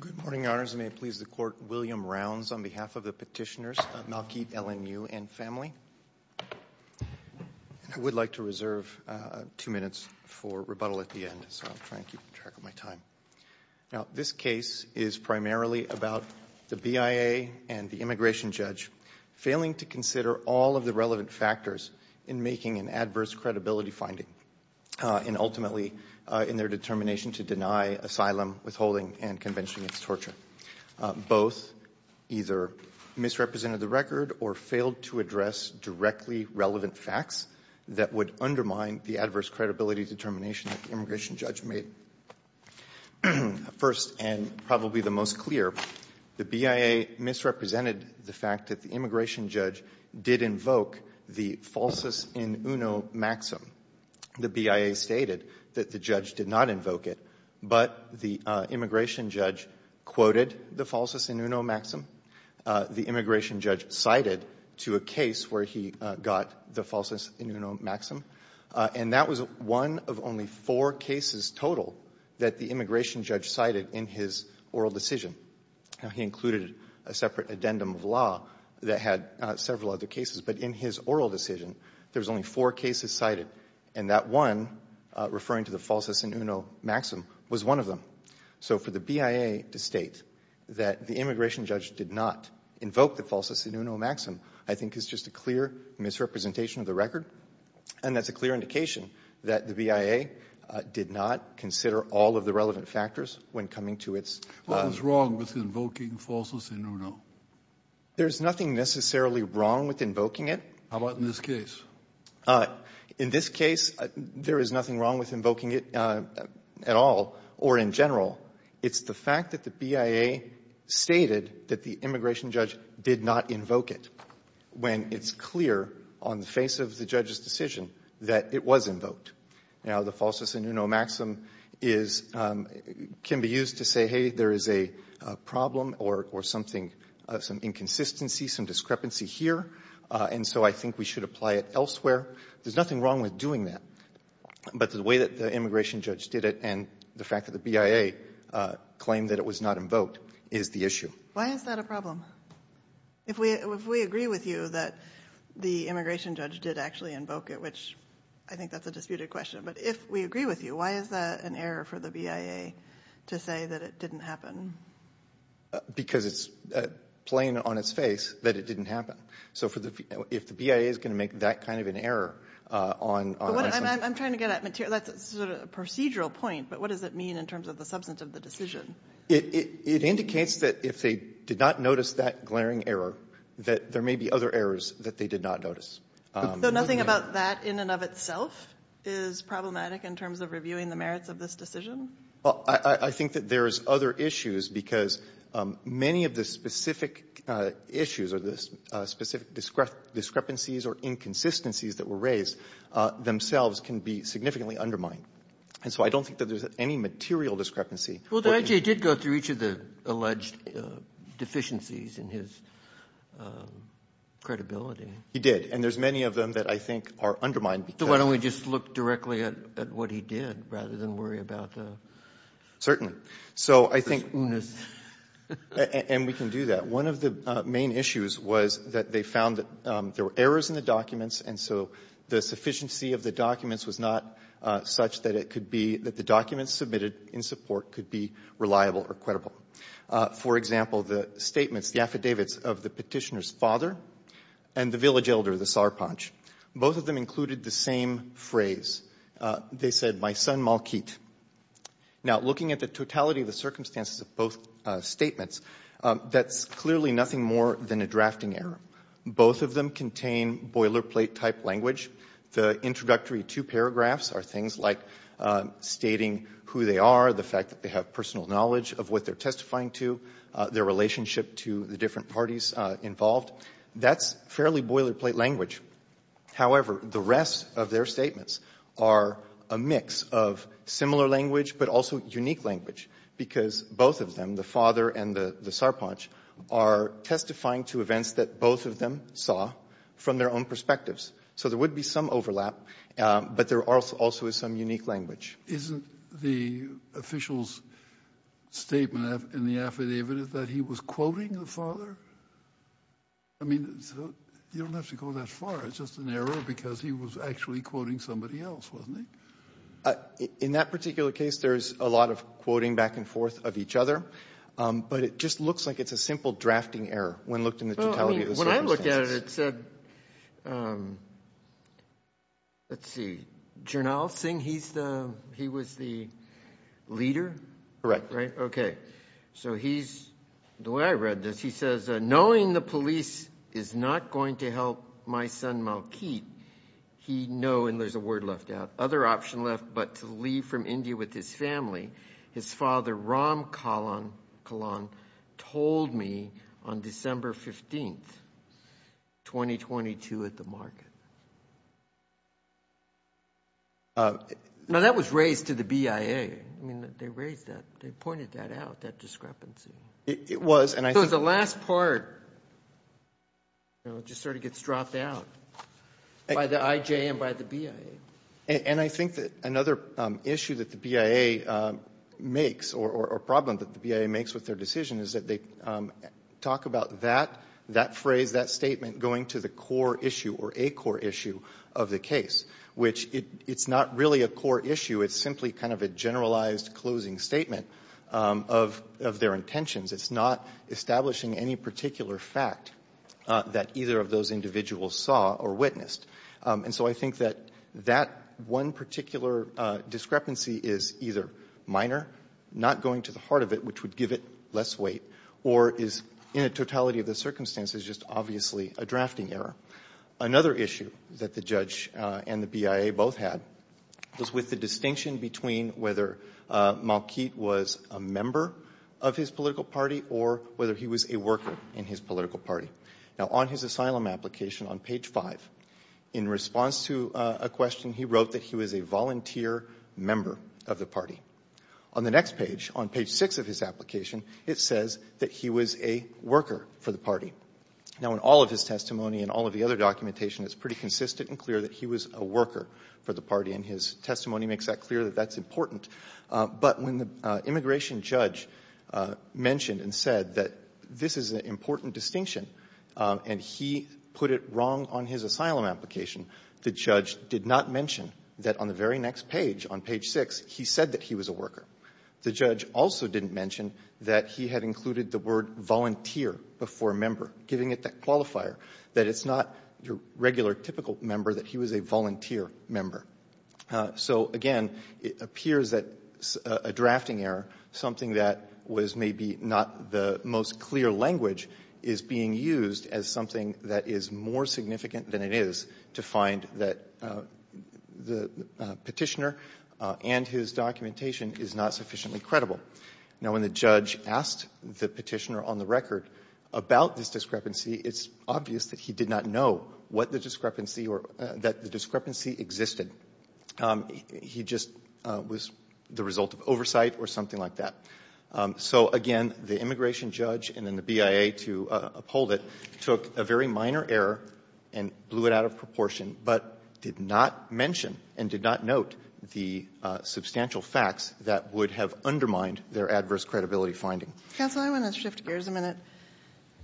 Good morning, Your Honors, and may it please the Court, William Rounds on behalf of the petitioners of Malkit, LNU, and family. I would like to reserve two minutes for rebuttal at the end, so I'll try and keep track of my time. Now, this case is primarily about the BIA and the immigration judge failing to consider all of the relevant factors in making an adverse credibility finding and ultimately in their determination to deny asylum, withholding, and convention against torture. Both either misrepresented the record or failed to address directly relevant facts that would undermine the adverse credibility determination that the immigration judge made. First, and probably the most clear, the BIA misrepresented the fact that the immigration judge did invoke the falsus in uno maxim. The BIA stated that the judge did not invoke it, but the immigration judge quoted the falsus in uno maxim. The immigration judge cited to a case where he got the falsus in uno maxim. And that was one of only four cases total that the immigration judge cited in his oral decision. Now, he included a separate addendum of law that had several other cases, but in his oral decision, there was only four cases cited. And that one, referring to the falsus in uno maxim, was one of them. So for the BIA to state that the immigration judge did not invoke the falsus in uno maxim I think is just a clear misrepresentation of the record. And that's a clear indication that the BIA did not consider all of the relevant factors when coming to its own. What was wrong with invoking falsus in uno? There's nothing necessarily wrong with invoking it. How about in this case? In this case, there is nothing wrong with invoking it at all or in general. It's the fact that the BIA stated that the immigration judge did not invoke it. When it's clear on the face of the judge's decision that it was invoked. Now, the falsus in uno maxim is can be used to say, hey, there is a problem or something, some inconsistency, some discrepancy here, and so I think we should apply it elsewhere. There's nothing wrong with doing that. But the way that the immigration judge did it and the fact that the BIA claimed that it was not invoked is the issue. Why is that a problem? If we agree with you that the immigration judge did actually invoke it, which I think that's a disputed question, but if we agree with you, why is that an error for the BIA to say that it didn't happen? Because it's plain on its face that it didn't happen. So if the BIA is going to make that kind of an error on the assumption. I'm trying to get at material. That's sort of a procedural point, but what does it mean in terms of the substance of the decision? It indicates that if they did not notice that glaring error, that there may be other errors that they did not notice. So nothing about that in and of itself is problematic in terms of reviewing the merits of this decision? I think that there is other issues because many of the specific issues or the specific discrepancies or inconsistencies that were raised themselves can be significantly Well, the IJ did go through each of the alleged deficiencies in his credibility. He did. And there's many of them that I think are undermined. So why don't we just look directly at what he did rather than worry about the unus? Certainly. So I think we can do that. One of the main issues was that they found that there were errors in the documents, and so the sufficiency of the documents was not such that it could be that the documents submitted in support could be reliable or credible. For example, the statements, the affidavits of the petitioner's father and the village elder, the Sarpanch, both of them included the same phrase. They said, my son, Malkit. Now, looking at the totality of the circumstances of both statements, that's clearly nothing more than a drafting error. Both of them contain boilerplate-type language. The introductory two paragraphs are things like stating who they are, the fact that they have personal knowledge of what they're testifying to, their relationship to the different parties involved. That's fairly boilerplate language. However, the rest of their statements are a mix of similar language, but also unique language, because both of them, the father and the Sarpanch, are testifying to events that both of them saw from their own perspectives. So there would be some overlap, but there also is some unique language. Isn't the official's statement in the affidavit that he was quoting the father? I mean, you don't have to go that far. It's just an error because he was actually quoting somebody else, wasn't he? In that particular case, there's a lot of quoting back and forth of each other, but it just looks like it's a simple drafting error when looked in the totality of the circumstances. When I looked at it, it said, let's see, Jarnal Singh, he was the leader? Correct. Right, okay. So he's, the way I read this, he says, knowing the police is not going to help my son Malkit, he know, and there's a word left out, other option left but to leave from India with his family, his father Ram Kalan told me on December 15th, 2022 at the market. Now, that was raised to the BIA. I mean, they raised that. They pointed that out, that discrepancy. It was, and I think the last part just sort of gets dropped out by the IJ and by the BIA. And I think that another issue that the BIA makes or problem that the BIA makes with their decision is that they talk about that, that phrase, that statement going to the core issue or a core issue of the case, which it's not really a core issue. It's simply kind of a generalized closing statement of their intentions. It's not establishing any particular fact that either of those individuals saw or witnessed. And so I think that that one particular discrepancy is either minor, not going to the heart of it, which would give it less weight, or is in a totality of the circumstances just obviously a drafting error. Another issue that the judge and the BIA both had was with the distinction between whether Malkit was a member of his political party or whether he was a worker in his political party. Now, on his asylum application on page five, in response to a question, he wrote that he was a volunteer member of the party. On the next page, on page six of his application, it says that he was a worker for the party. Now, in all of his testimony and all of the other documentation, it's pretty consistent and clear that he was a worker for the party, and his testimony makes that clear that that's important. But when the immigration judge mentioned and said that this is an important distinction and he put it wrong on his asylum application, the judge did not mention that on the very next page, on page six, he said that he was a worker. The judge also didn't mention that he had included the word volunteer before member, giving it that qualifier, that it's not your regular, typical member, that he was a volunteer member. So, again, it appears that a drafting error, something that was maybe not the most clear language, is being used as something that is more significant than it is to find that the Petitioner and his documentation is not sufficiently credible. Now, when the judge asked the Petitioner on the record about this discrepancy, it's obvious that he did not know what the discrepancy or that the discrepancy existed. He just was the result of oversight or something like that. So, again, the immigration judge and then the BIA to uphold it took a very minor error and blew it out of proportion, but did not mention and did not note the substantial facts that would have undermined their adverse credibility finding. Counsel, I want to shift gears a minute.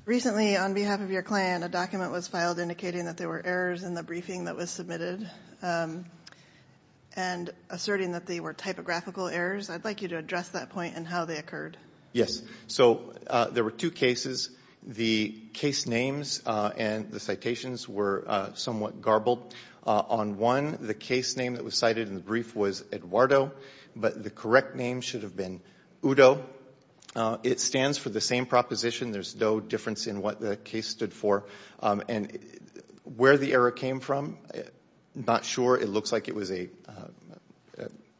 Recently, on behalf of your client, a document was filed indicating that there were errors in the briefing that was submitted and asserting that they were typographical errors. I'd like you to address that point and how they occurred. Yes. So, there were two cases. The case names and the citations were somewhat garbled. On one, the case name that was cited in the brief was Eduardo, but the correct name should have been Udo. It stands for the same proposition. There's no difference in what the case stood for. And where the error came from, not sure. It looks like it was a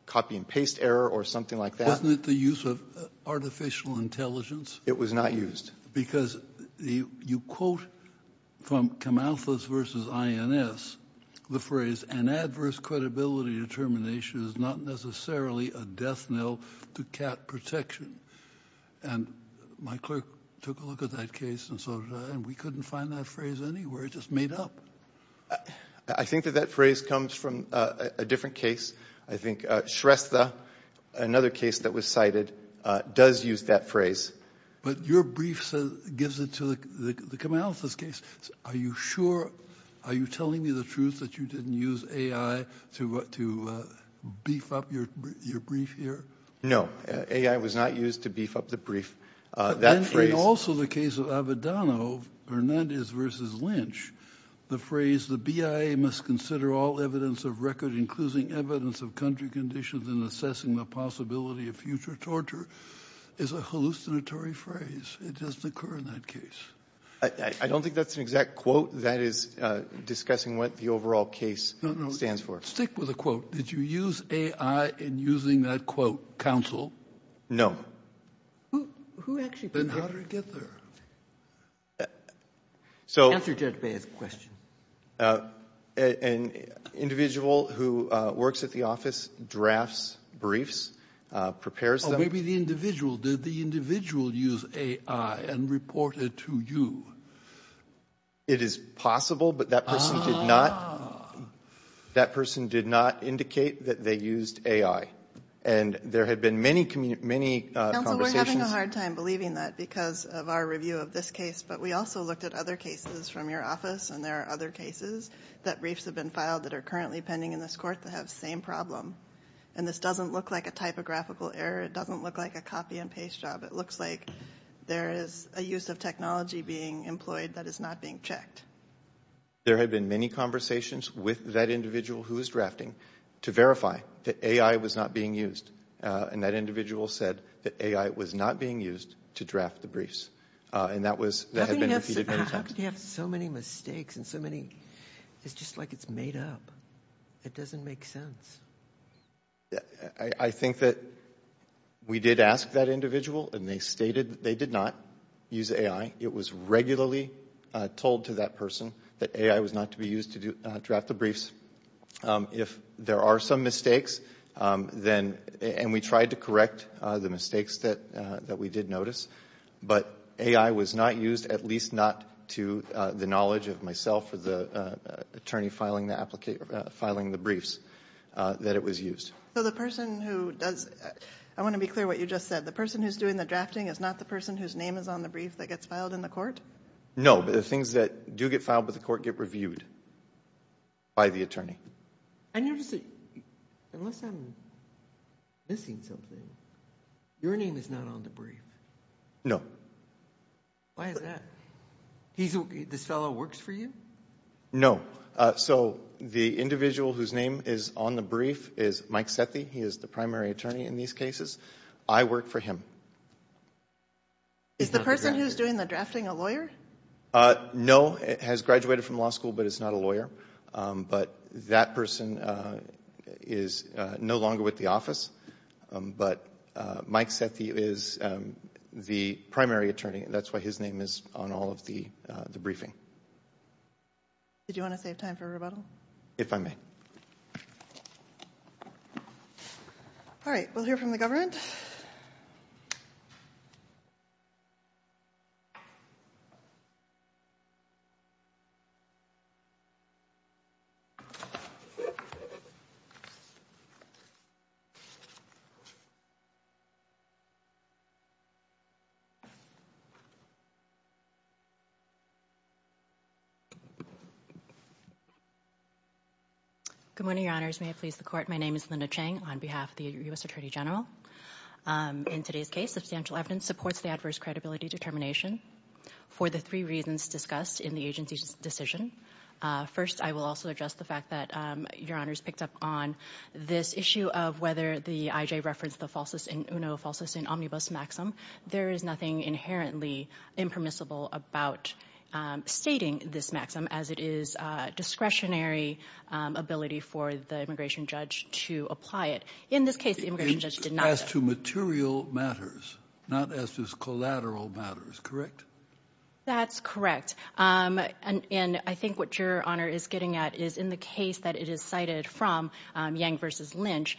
copy and paste error or something like that. Wasn't it the use of artificial intelligence? It was not used. Because you quote from Camalthus v. INS the phrase, an adverse credibility determination is not necessarily a death knell to cat protection. And my clerk took a look at that case and we couldn't find that phrase anywhere. It just made up. I think that that phrase comes from a different case. I think Shrestha, another case that was cited, does use that phrase. But your brief gives it to the Camalthus case. Are you sure? Are you telling me the truth that you didn't use AI to beef up your brief here? No. AI was not used to beef up the brief. Also the case of Avedano, Hernandez v. Lynch, the phrase, the BIA must consider all evidence of record, including evidence of country conditions in assessing the possibility of future torture, is a hallucinatory phrase. It doesn't occur in that case. I don't think that's an exact quote. That is discussing what the overall case stands for. Stick with the quote. Did you use AI in using that quote, counsel? No. Then how did it get there? Answer Judge Bey's question. An individual who works at the office drafts briefs, prepares them. Maybe the individual. Did the individual use AI and report it to you? It is possible, but that person did not. That person did not indicate that they used AI. And there had been many conversations. Counsel, we're having a hard time believing that because of our review of this case, but we also looked at other cases from your office, and there are other cases that briefs have been filed that are currently pending in this court that have the same problem. And this doesn't look like a typographical error. It doesn't look like a copy and paste job. It looks like there is a use of technology being employed that is not being checked. There had been many conversations with that individual who was drafting to verify that AI was not being used. And that individual said that AI was not being used to draft the briefs. And that had been repeated many times. How could you have so many mistakes and so many – it's just like it's made up. It doesn't make sense. I think that we did ask that individual, and they stated that they did not use AI. It was regularly told to that person that AI was not to be used to draft the briefs. If there are some mistakes, then – and we tried to correct the mistakes that we did notice, but AI was not used, at least not to the knowledge of myself or the attorney filing the briefs that it was used. So the person who does – I want to be clear what you just said. The person who is doing the drafting is not the person whose name is on the brief that gets filed in the court? No, but the things that do get filed by the court get reviewed by the attorney. I notice that, unless I'm missing something, your name is not on the brief. No. Why is that? This fellow works for you? No. So the individual whose name is on the brief is Mike Sethi. He is the primary attorney in these cases. I work for him. Is the person who is doing the drafting a lawyer? No. It has graduated from law school, but it's not a lawyer. But that person is no longer with the office, but Mike Sethi is the primary attorney. That's why his name is on all of the briefing. Did you want to save time for rebuttal? If I may. All right. We'll hear from the government. Good morning, Your Honors. May it please the Court. My name is Linda Chang on behalf of the U.S. Attorney General. In today's case, substantial evidence supports the adverse credibility determination for the three reasons discussed in the agency's decision. First, I will also address the fact that Your Honors picked up on this issue of whether the I.J. referenced the falsest in UNO, falsest in omnibus maxim. There is nothing inherently impermissible about stating this maxim as it is discretionary ability for the immigration judge to apply it. In this case, the immigration judge did not. As to material matters, not as to collateral matters, correct? That's correct. And I think what Your Honor is getting at is in the case that it is cited from, Yang v. Lynch,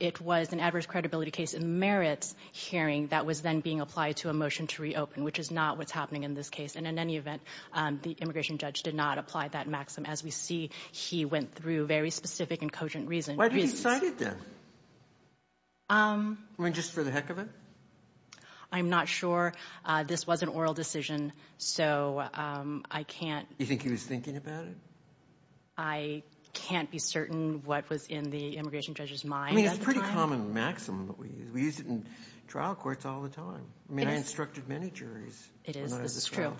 it was an adverse credibility case in the merits hearing that was then being applied to a motion to reopen, which is not what's happening in this case. And in any event, the immigration judge did not apply that maxim. As we see, he went through very specific and cogent reasons. Why did he cite it then? I mean, just for the heck of it? I'm not sure. This was an oral decision, so I can't — You think he was thinking about it? I can't be certain what was in the immigration judge's mind at the time. I mean, it's a pretty common maxim that we use. We use it in trial courts all the time. I mean, I instructed many juries. It is. This is true.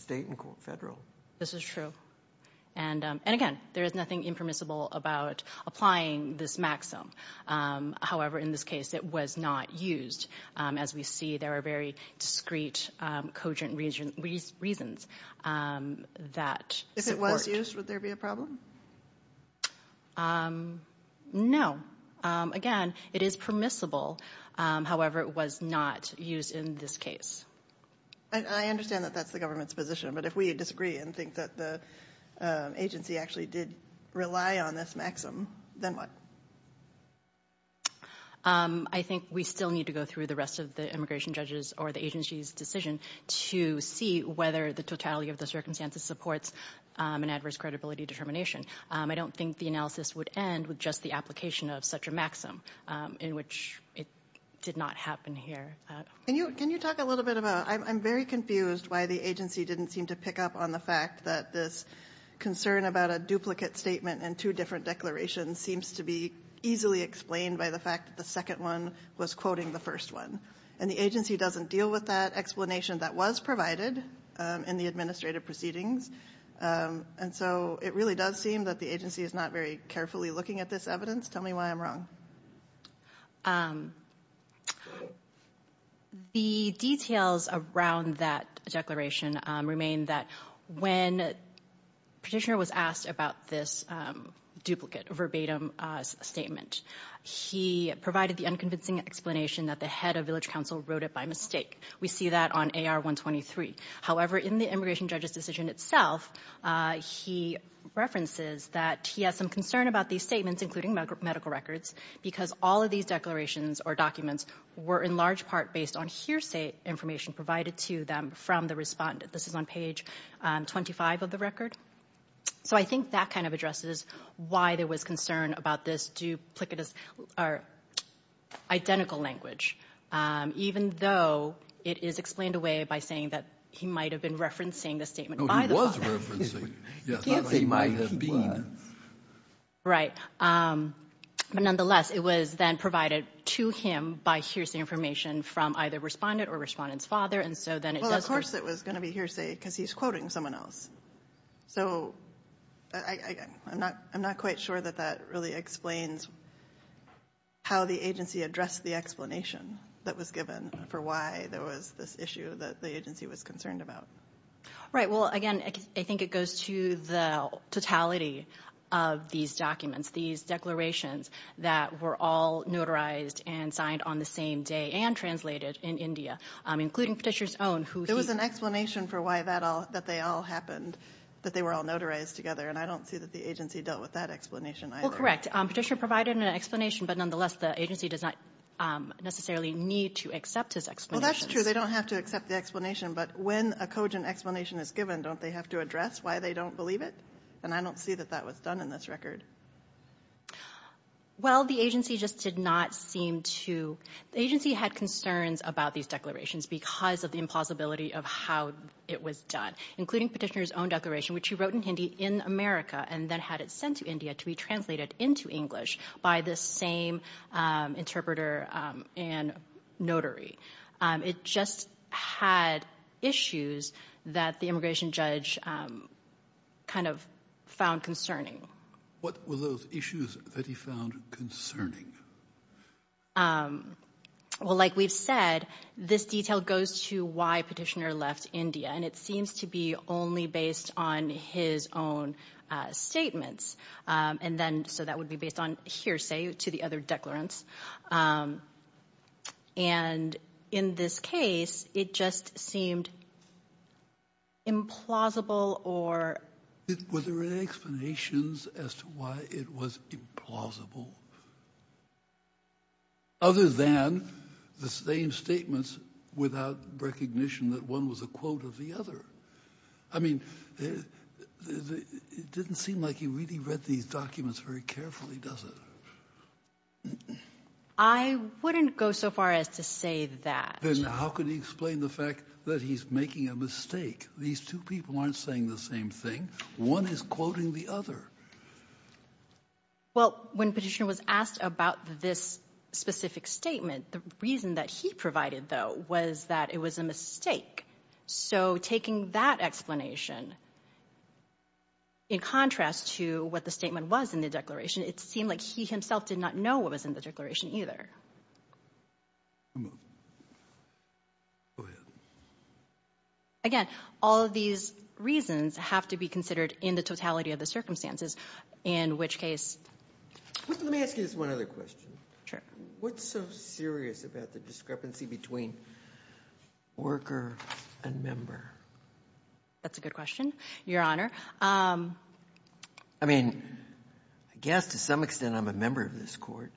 State and federal. This is true. And, again, there is nothing impermissible about applying this maxim. However, in this case, it was not used. As we see, there are very discreet, cogent reasons that support. If it was used, would there be a problem? No. Again, it is permissible. However, it was not used in this case. I understand that that's the government's position. But if we disagree and think that the agency actually did rely on this maxim, then what? I think we still need to go through the rest of the immigration judge's or the agency's decision to see whether the totality of the circumstances supports an adverse credibility determination. I don't think the analysis would end with just the application of such a maxim, in which it did not happen here. Can you talk a little bit about — I'm very confused why the agency didn't seem to pick up on the fact that this concern about a duplicate statement and two different declarations seems to be easily explained by the fact that the second one was quoting the first one. And the agency doesn't deal with that explanation that was provided in the administrative proceedings. And so it really does seem that the agency is not very carefully looking at this evidence. Tell me why I'm wrong. The details around that declaration remain that when Petitioner was asked about this duplicate, verbatim statement, he provided the unconvincing explanation that the head of village council wrote it by mistake. We see that on AR-123. However, in the immigration judge's decision itself, he references that he has some concern about these statements, including medical records, because all of these declarations or documents were, in large part, based on hearsay information provided to them from the respondent. This is on page 25 of the record. So I think that kind of addresses why there was concern about this duplicitous or identical language, even though it is explained away by saying that he might have been referencing the statement by the defendant. He might have been. Right. But nonetheless, it was then provided to him by hearsay information from either respondent or respondent's father. And so then it does. Well, of course it was going to be hearsay because he's quoting someone else. So I'm not quite sure that that really explains how the agency addressed the explanation that was given for why there was this issue that the agency was concerned about. Right. Well, again, I think it goes to the totality of these documents, these declarations that were all notarized and signed on the same day and translated in India, including Petitioner's own. There was an explanation for why they all happened, that they were all notarized together, and I don't see that the agency dealt with that explanation either. Well, correct. Petitioner provided an explanation, but nonetheless, the agency does not necessarily need to accept his explanation. Well, that's true. Because they don't have to accept the explanation, but when a cogent explanation is given, don't they have to address why they don't believe it? And I don't see that that was done in this record. Well, the agency just did not seem to. The agency had concerns about these declarations because of the impossibility of how it was done, including Petitioner's own declaration, which he wrote in Hindi in America and then had it sent to India to be translated into English by the same interpreter and notary. It just had issues that the immigration judge kind of found concerning. What were those issues that he found concerning? Well, like we've said, this detail goes to why Petitioner left India, and it seems to be only based on his own statements. So that would be based on hearsay to the other declarants. And in this case, it just seemed implausible or— Were there any explanations as to why it was implausible, other than the same statements without recognition that one was a quote of the other? I mean, it didn't seem like he really read these documents very carefully, does it? I wouldn't go so far as to say that. Then how could he explain the fact that he's making a mistake? These two people aren't saying the same thing. One is quoting the other. Well, when Petitioner was asked about this specific statement, the reason that he provided, though, was that it was a mistake. So taking that explanation, in contrast to what the statement was in the declaration, it seemed like he himself did not know what was in the declaration either. Again, all of these reasons have to be considered in the totality of the circumstances, in which case— Let me ask you just one other question. Sure. What's so serious about the discrepancy between worker and member? That's a good question, Your Honor. I mean, I guess to some extent I'm a member of this Court,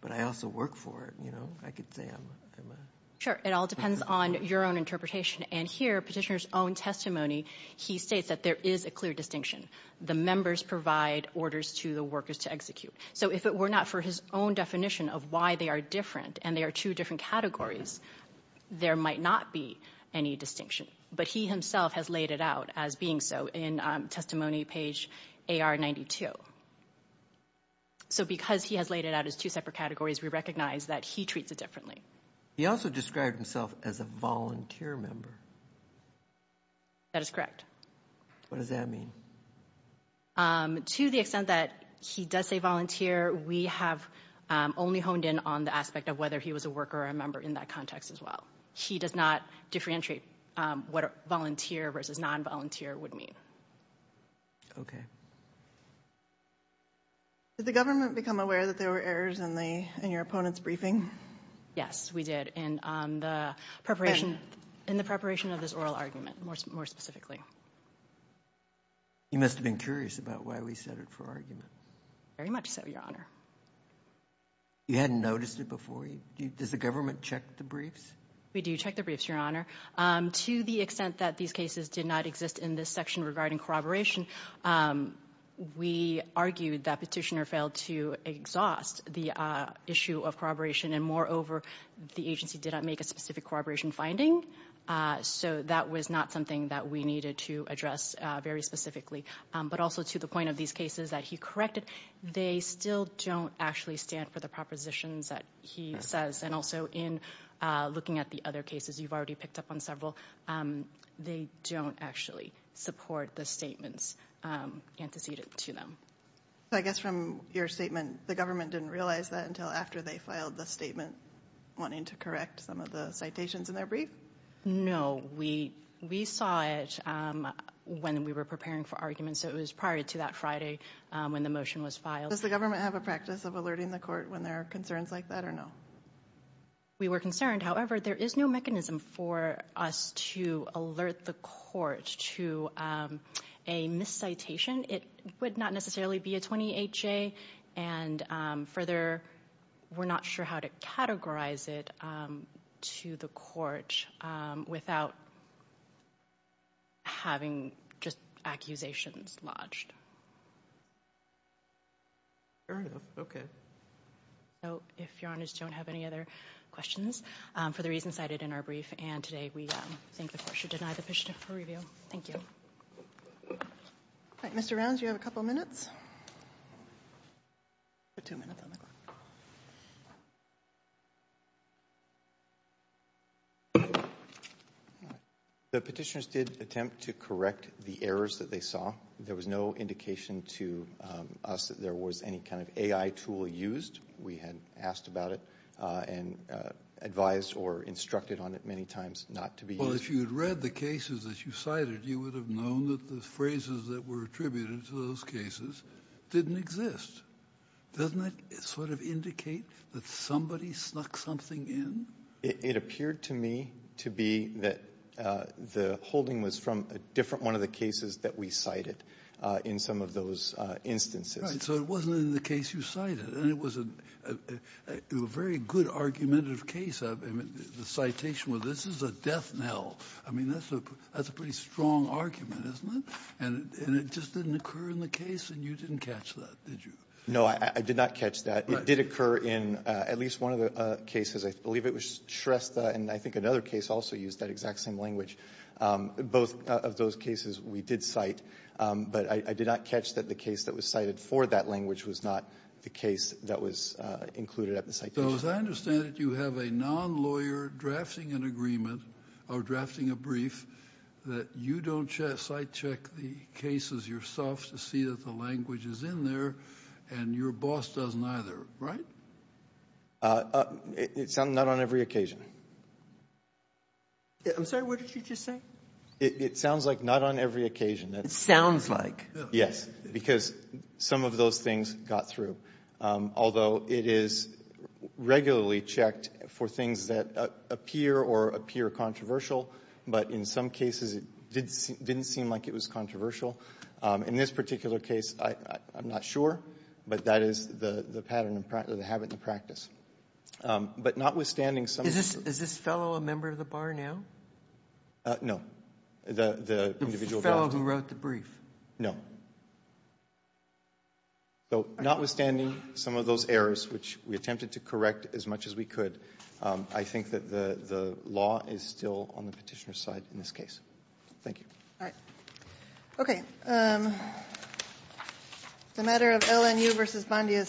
but I also work for it. You know, I could say I'm a— Sure. It all depends on your own interpretation. And here, Petitioner's own testimony, he states that there is a clear distinction. The members provide orders to the workers to execute. So if it were not for his own definition of why they are different and they are two different categories, there might not be any distinction. But he himself has laid it out as being so in testimony page AR92. So because he has laid it out as two separate categories, we recognize that he treats it differently. He also described himself as a volunteer member. That is correct. What does that mean? To the extent that he does say volunteer, we have only honed in on the aspect of whether he was a worker or a member in that context as well. He does not differentiate what volunteer versus non-volunteer would mean. Okay. Did the government become aware that there were errors in your opponent's briefing? Yes, we did, in the preparation of this oral argument, more specifically. You must have been curious about why we set it for argument. Very much so, Your Honor. You hadn't noticed it before? Does the government check the briefs? We do check the briefs, Your Honor. To the extent that these cases did not exist in this section regarding corroboration, we argued that Petitioner failed to exhaust the issue of corroboration, and moreover, the agency did not make a specific corroboration finding, so that was not something that we needed to address very specifically. But also to the point of these cases that he corrected, they still don't actually stand for the propositions that he says, and also in looking at the other cases you've already picked up on several, they don't actually support the statements antecedent to them. So I guess from your statement, the government didn't realize that until after they filed the statement, wanting to correct some of the citations in their brief? No. We saw it when we were preparing for argument, so it was prior to that Friday when the motion was filed. Does the government have a practice of alerting the court when there are concerns like that, or no? We were concerned. However, there is no mechanism for us to alert the court to a miscitation. It would not necessarily be a 28-J, and further we're not sure how to categorize it to the court without having just accusations lodged. Fair enough. Okay. If your honors don't have any other questions, for the reasons cited in our brief, and today we think the court should deny the petition for review. Thank you. All right. Mr. Rounds, you have a couple of minutes. Two minutes on the clock. The petitioners did attempt to correct the errors that they saw. There was no indication to us that there was any kind of AI tool used. We had asked about it and advised or instructed on it many times not to be used. Well, if you had read the cases that you cited, you would have known that the phrases that were attributed to those cases didn't exist. Doesn't that sort of indicate that somebody snuck something in? It appeared to me to be that the holding was from a different one of the cases that we cited in some of those instances. So it wasn't in the case you cited. And it was a very good argumentative case. The citation was, this is a death knell. I mean, that's a pretty strong argument, isn't it? And it just didn't occur in the case, and you didn't catch that, did you? No, I did not catch that. Right. It did occur in at least one of the cases. I believe it was Shrestha and I think another case also used that exact same language. Both of those cases we did cite, but I did not catch that the case that was cited for that language was not the case that was included at the citation. So as I understand it, you have a non-lawyer drafting an agreement or drafting a brief that you don't cite check the cases yourself to see that the language is in there and your boss doesn't either, right? It's not on every occasion. I'm sorry, what did you just say? It sounds like not on every occasion. It sounds like. Yes, because some of those things got through. Although it is regularly checked for things that appear or appear controversial, but in some cases it didn't seem like it was controversial. In this particular case, I'm not sure, but that is the pattern and the habit and the practice. But notwithstanding some of the- Is this fellow a member of the bar now? No, the individual- The fellow who wrote the brief. No. So notwithstanding some of those errors, which we attempted to correct as much as we could, I think that the law is still on the Petitioner's side in this case. Thank you. All right. Okay. The matter of LNU v. Bondi is submitted.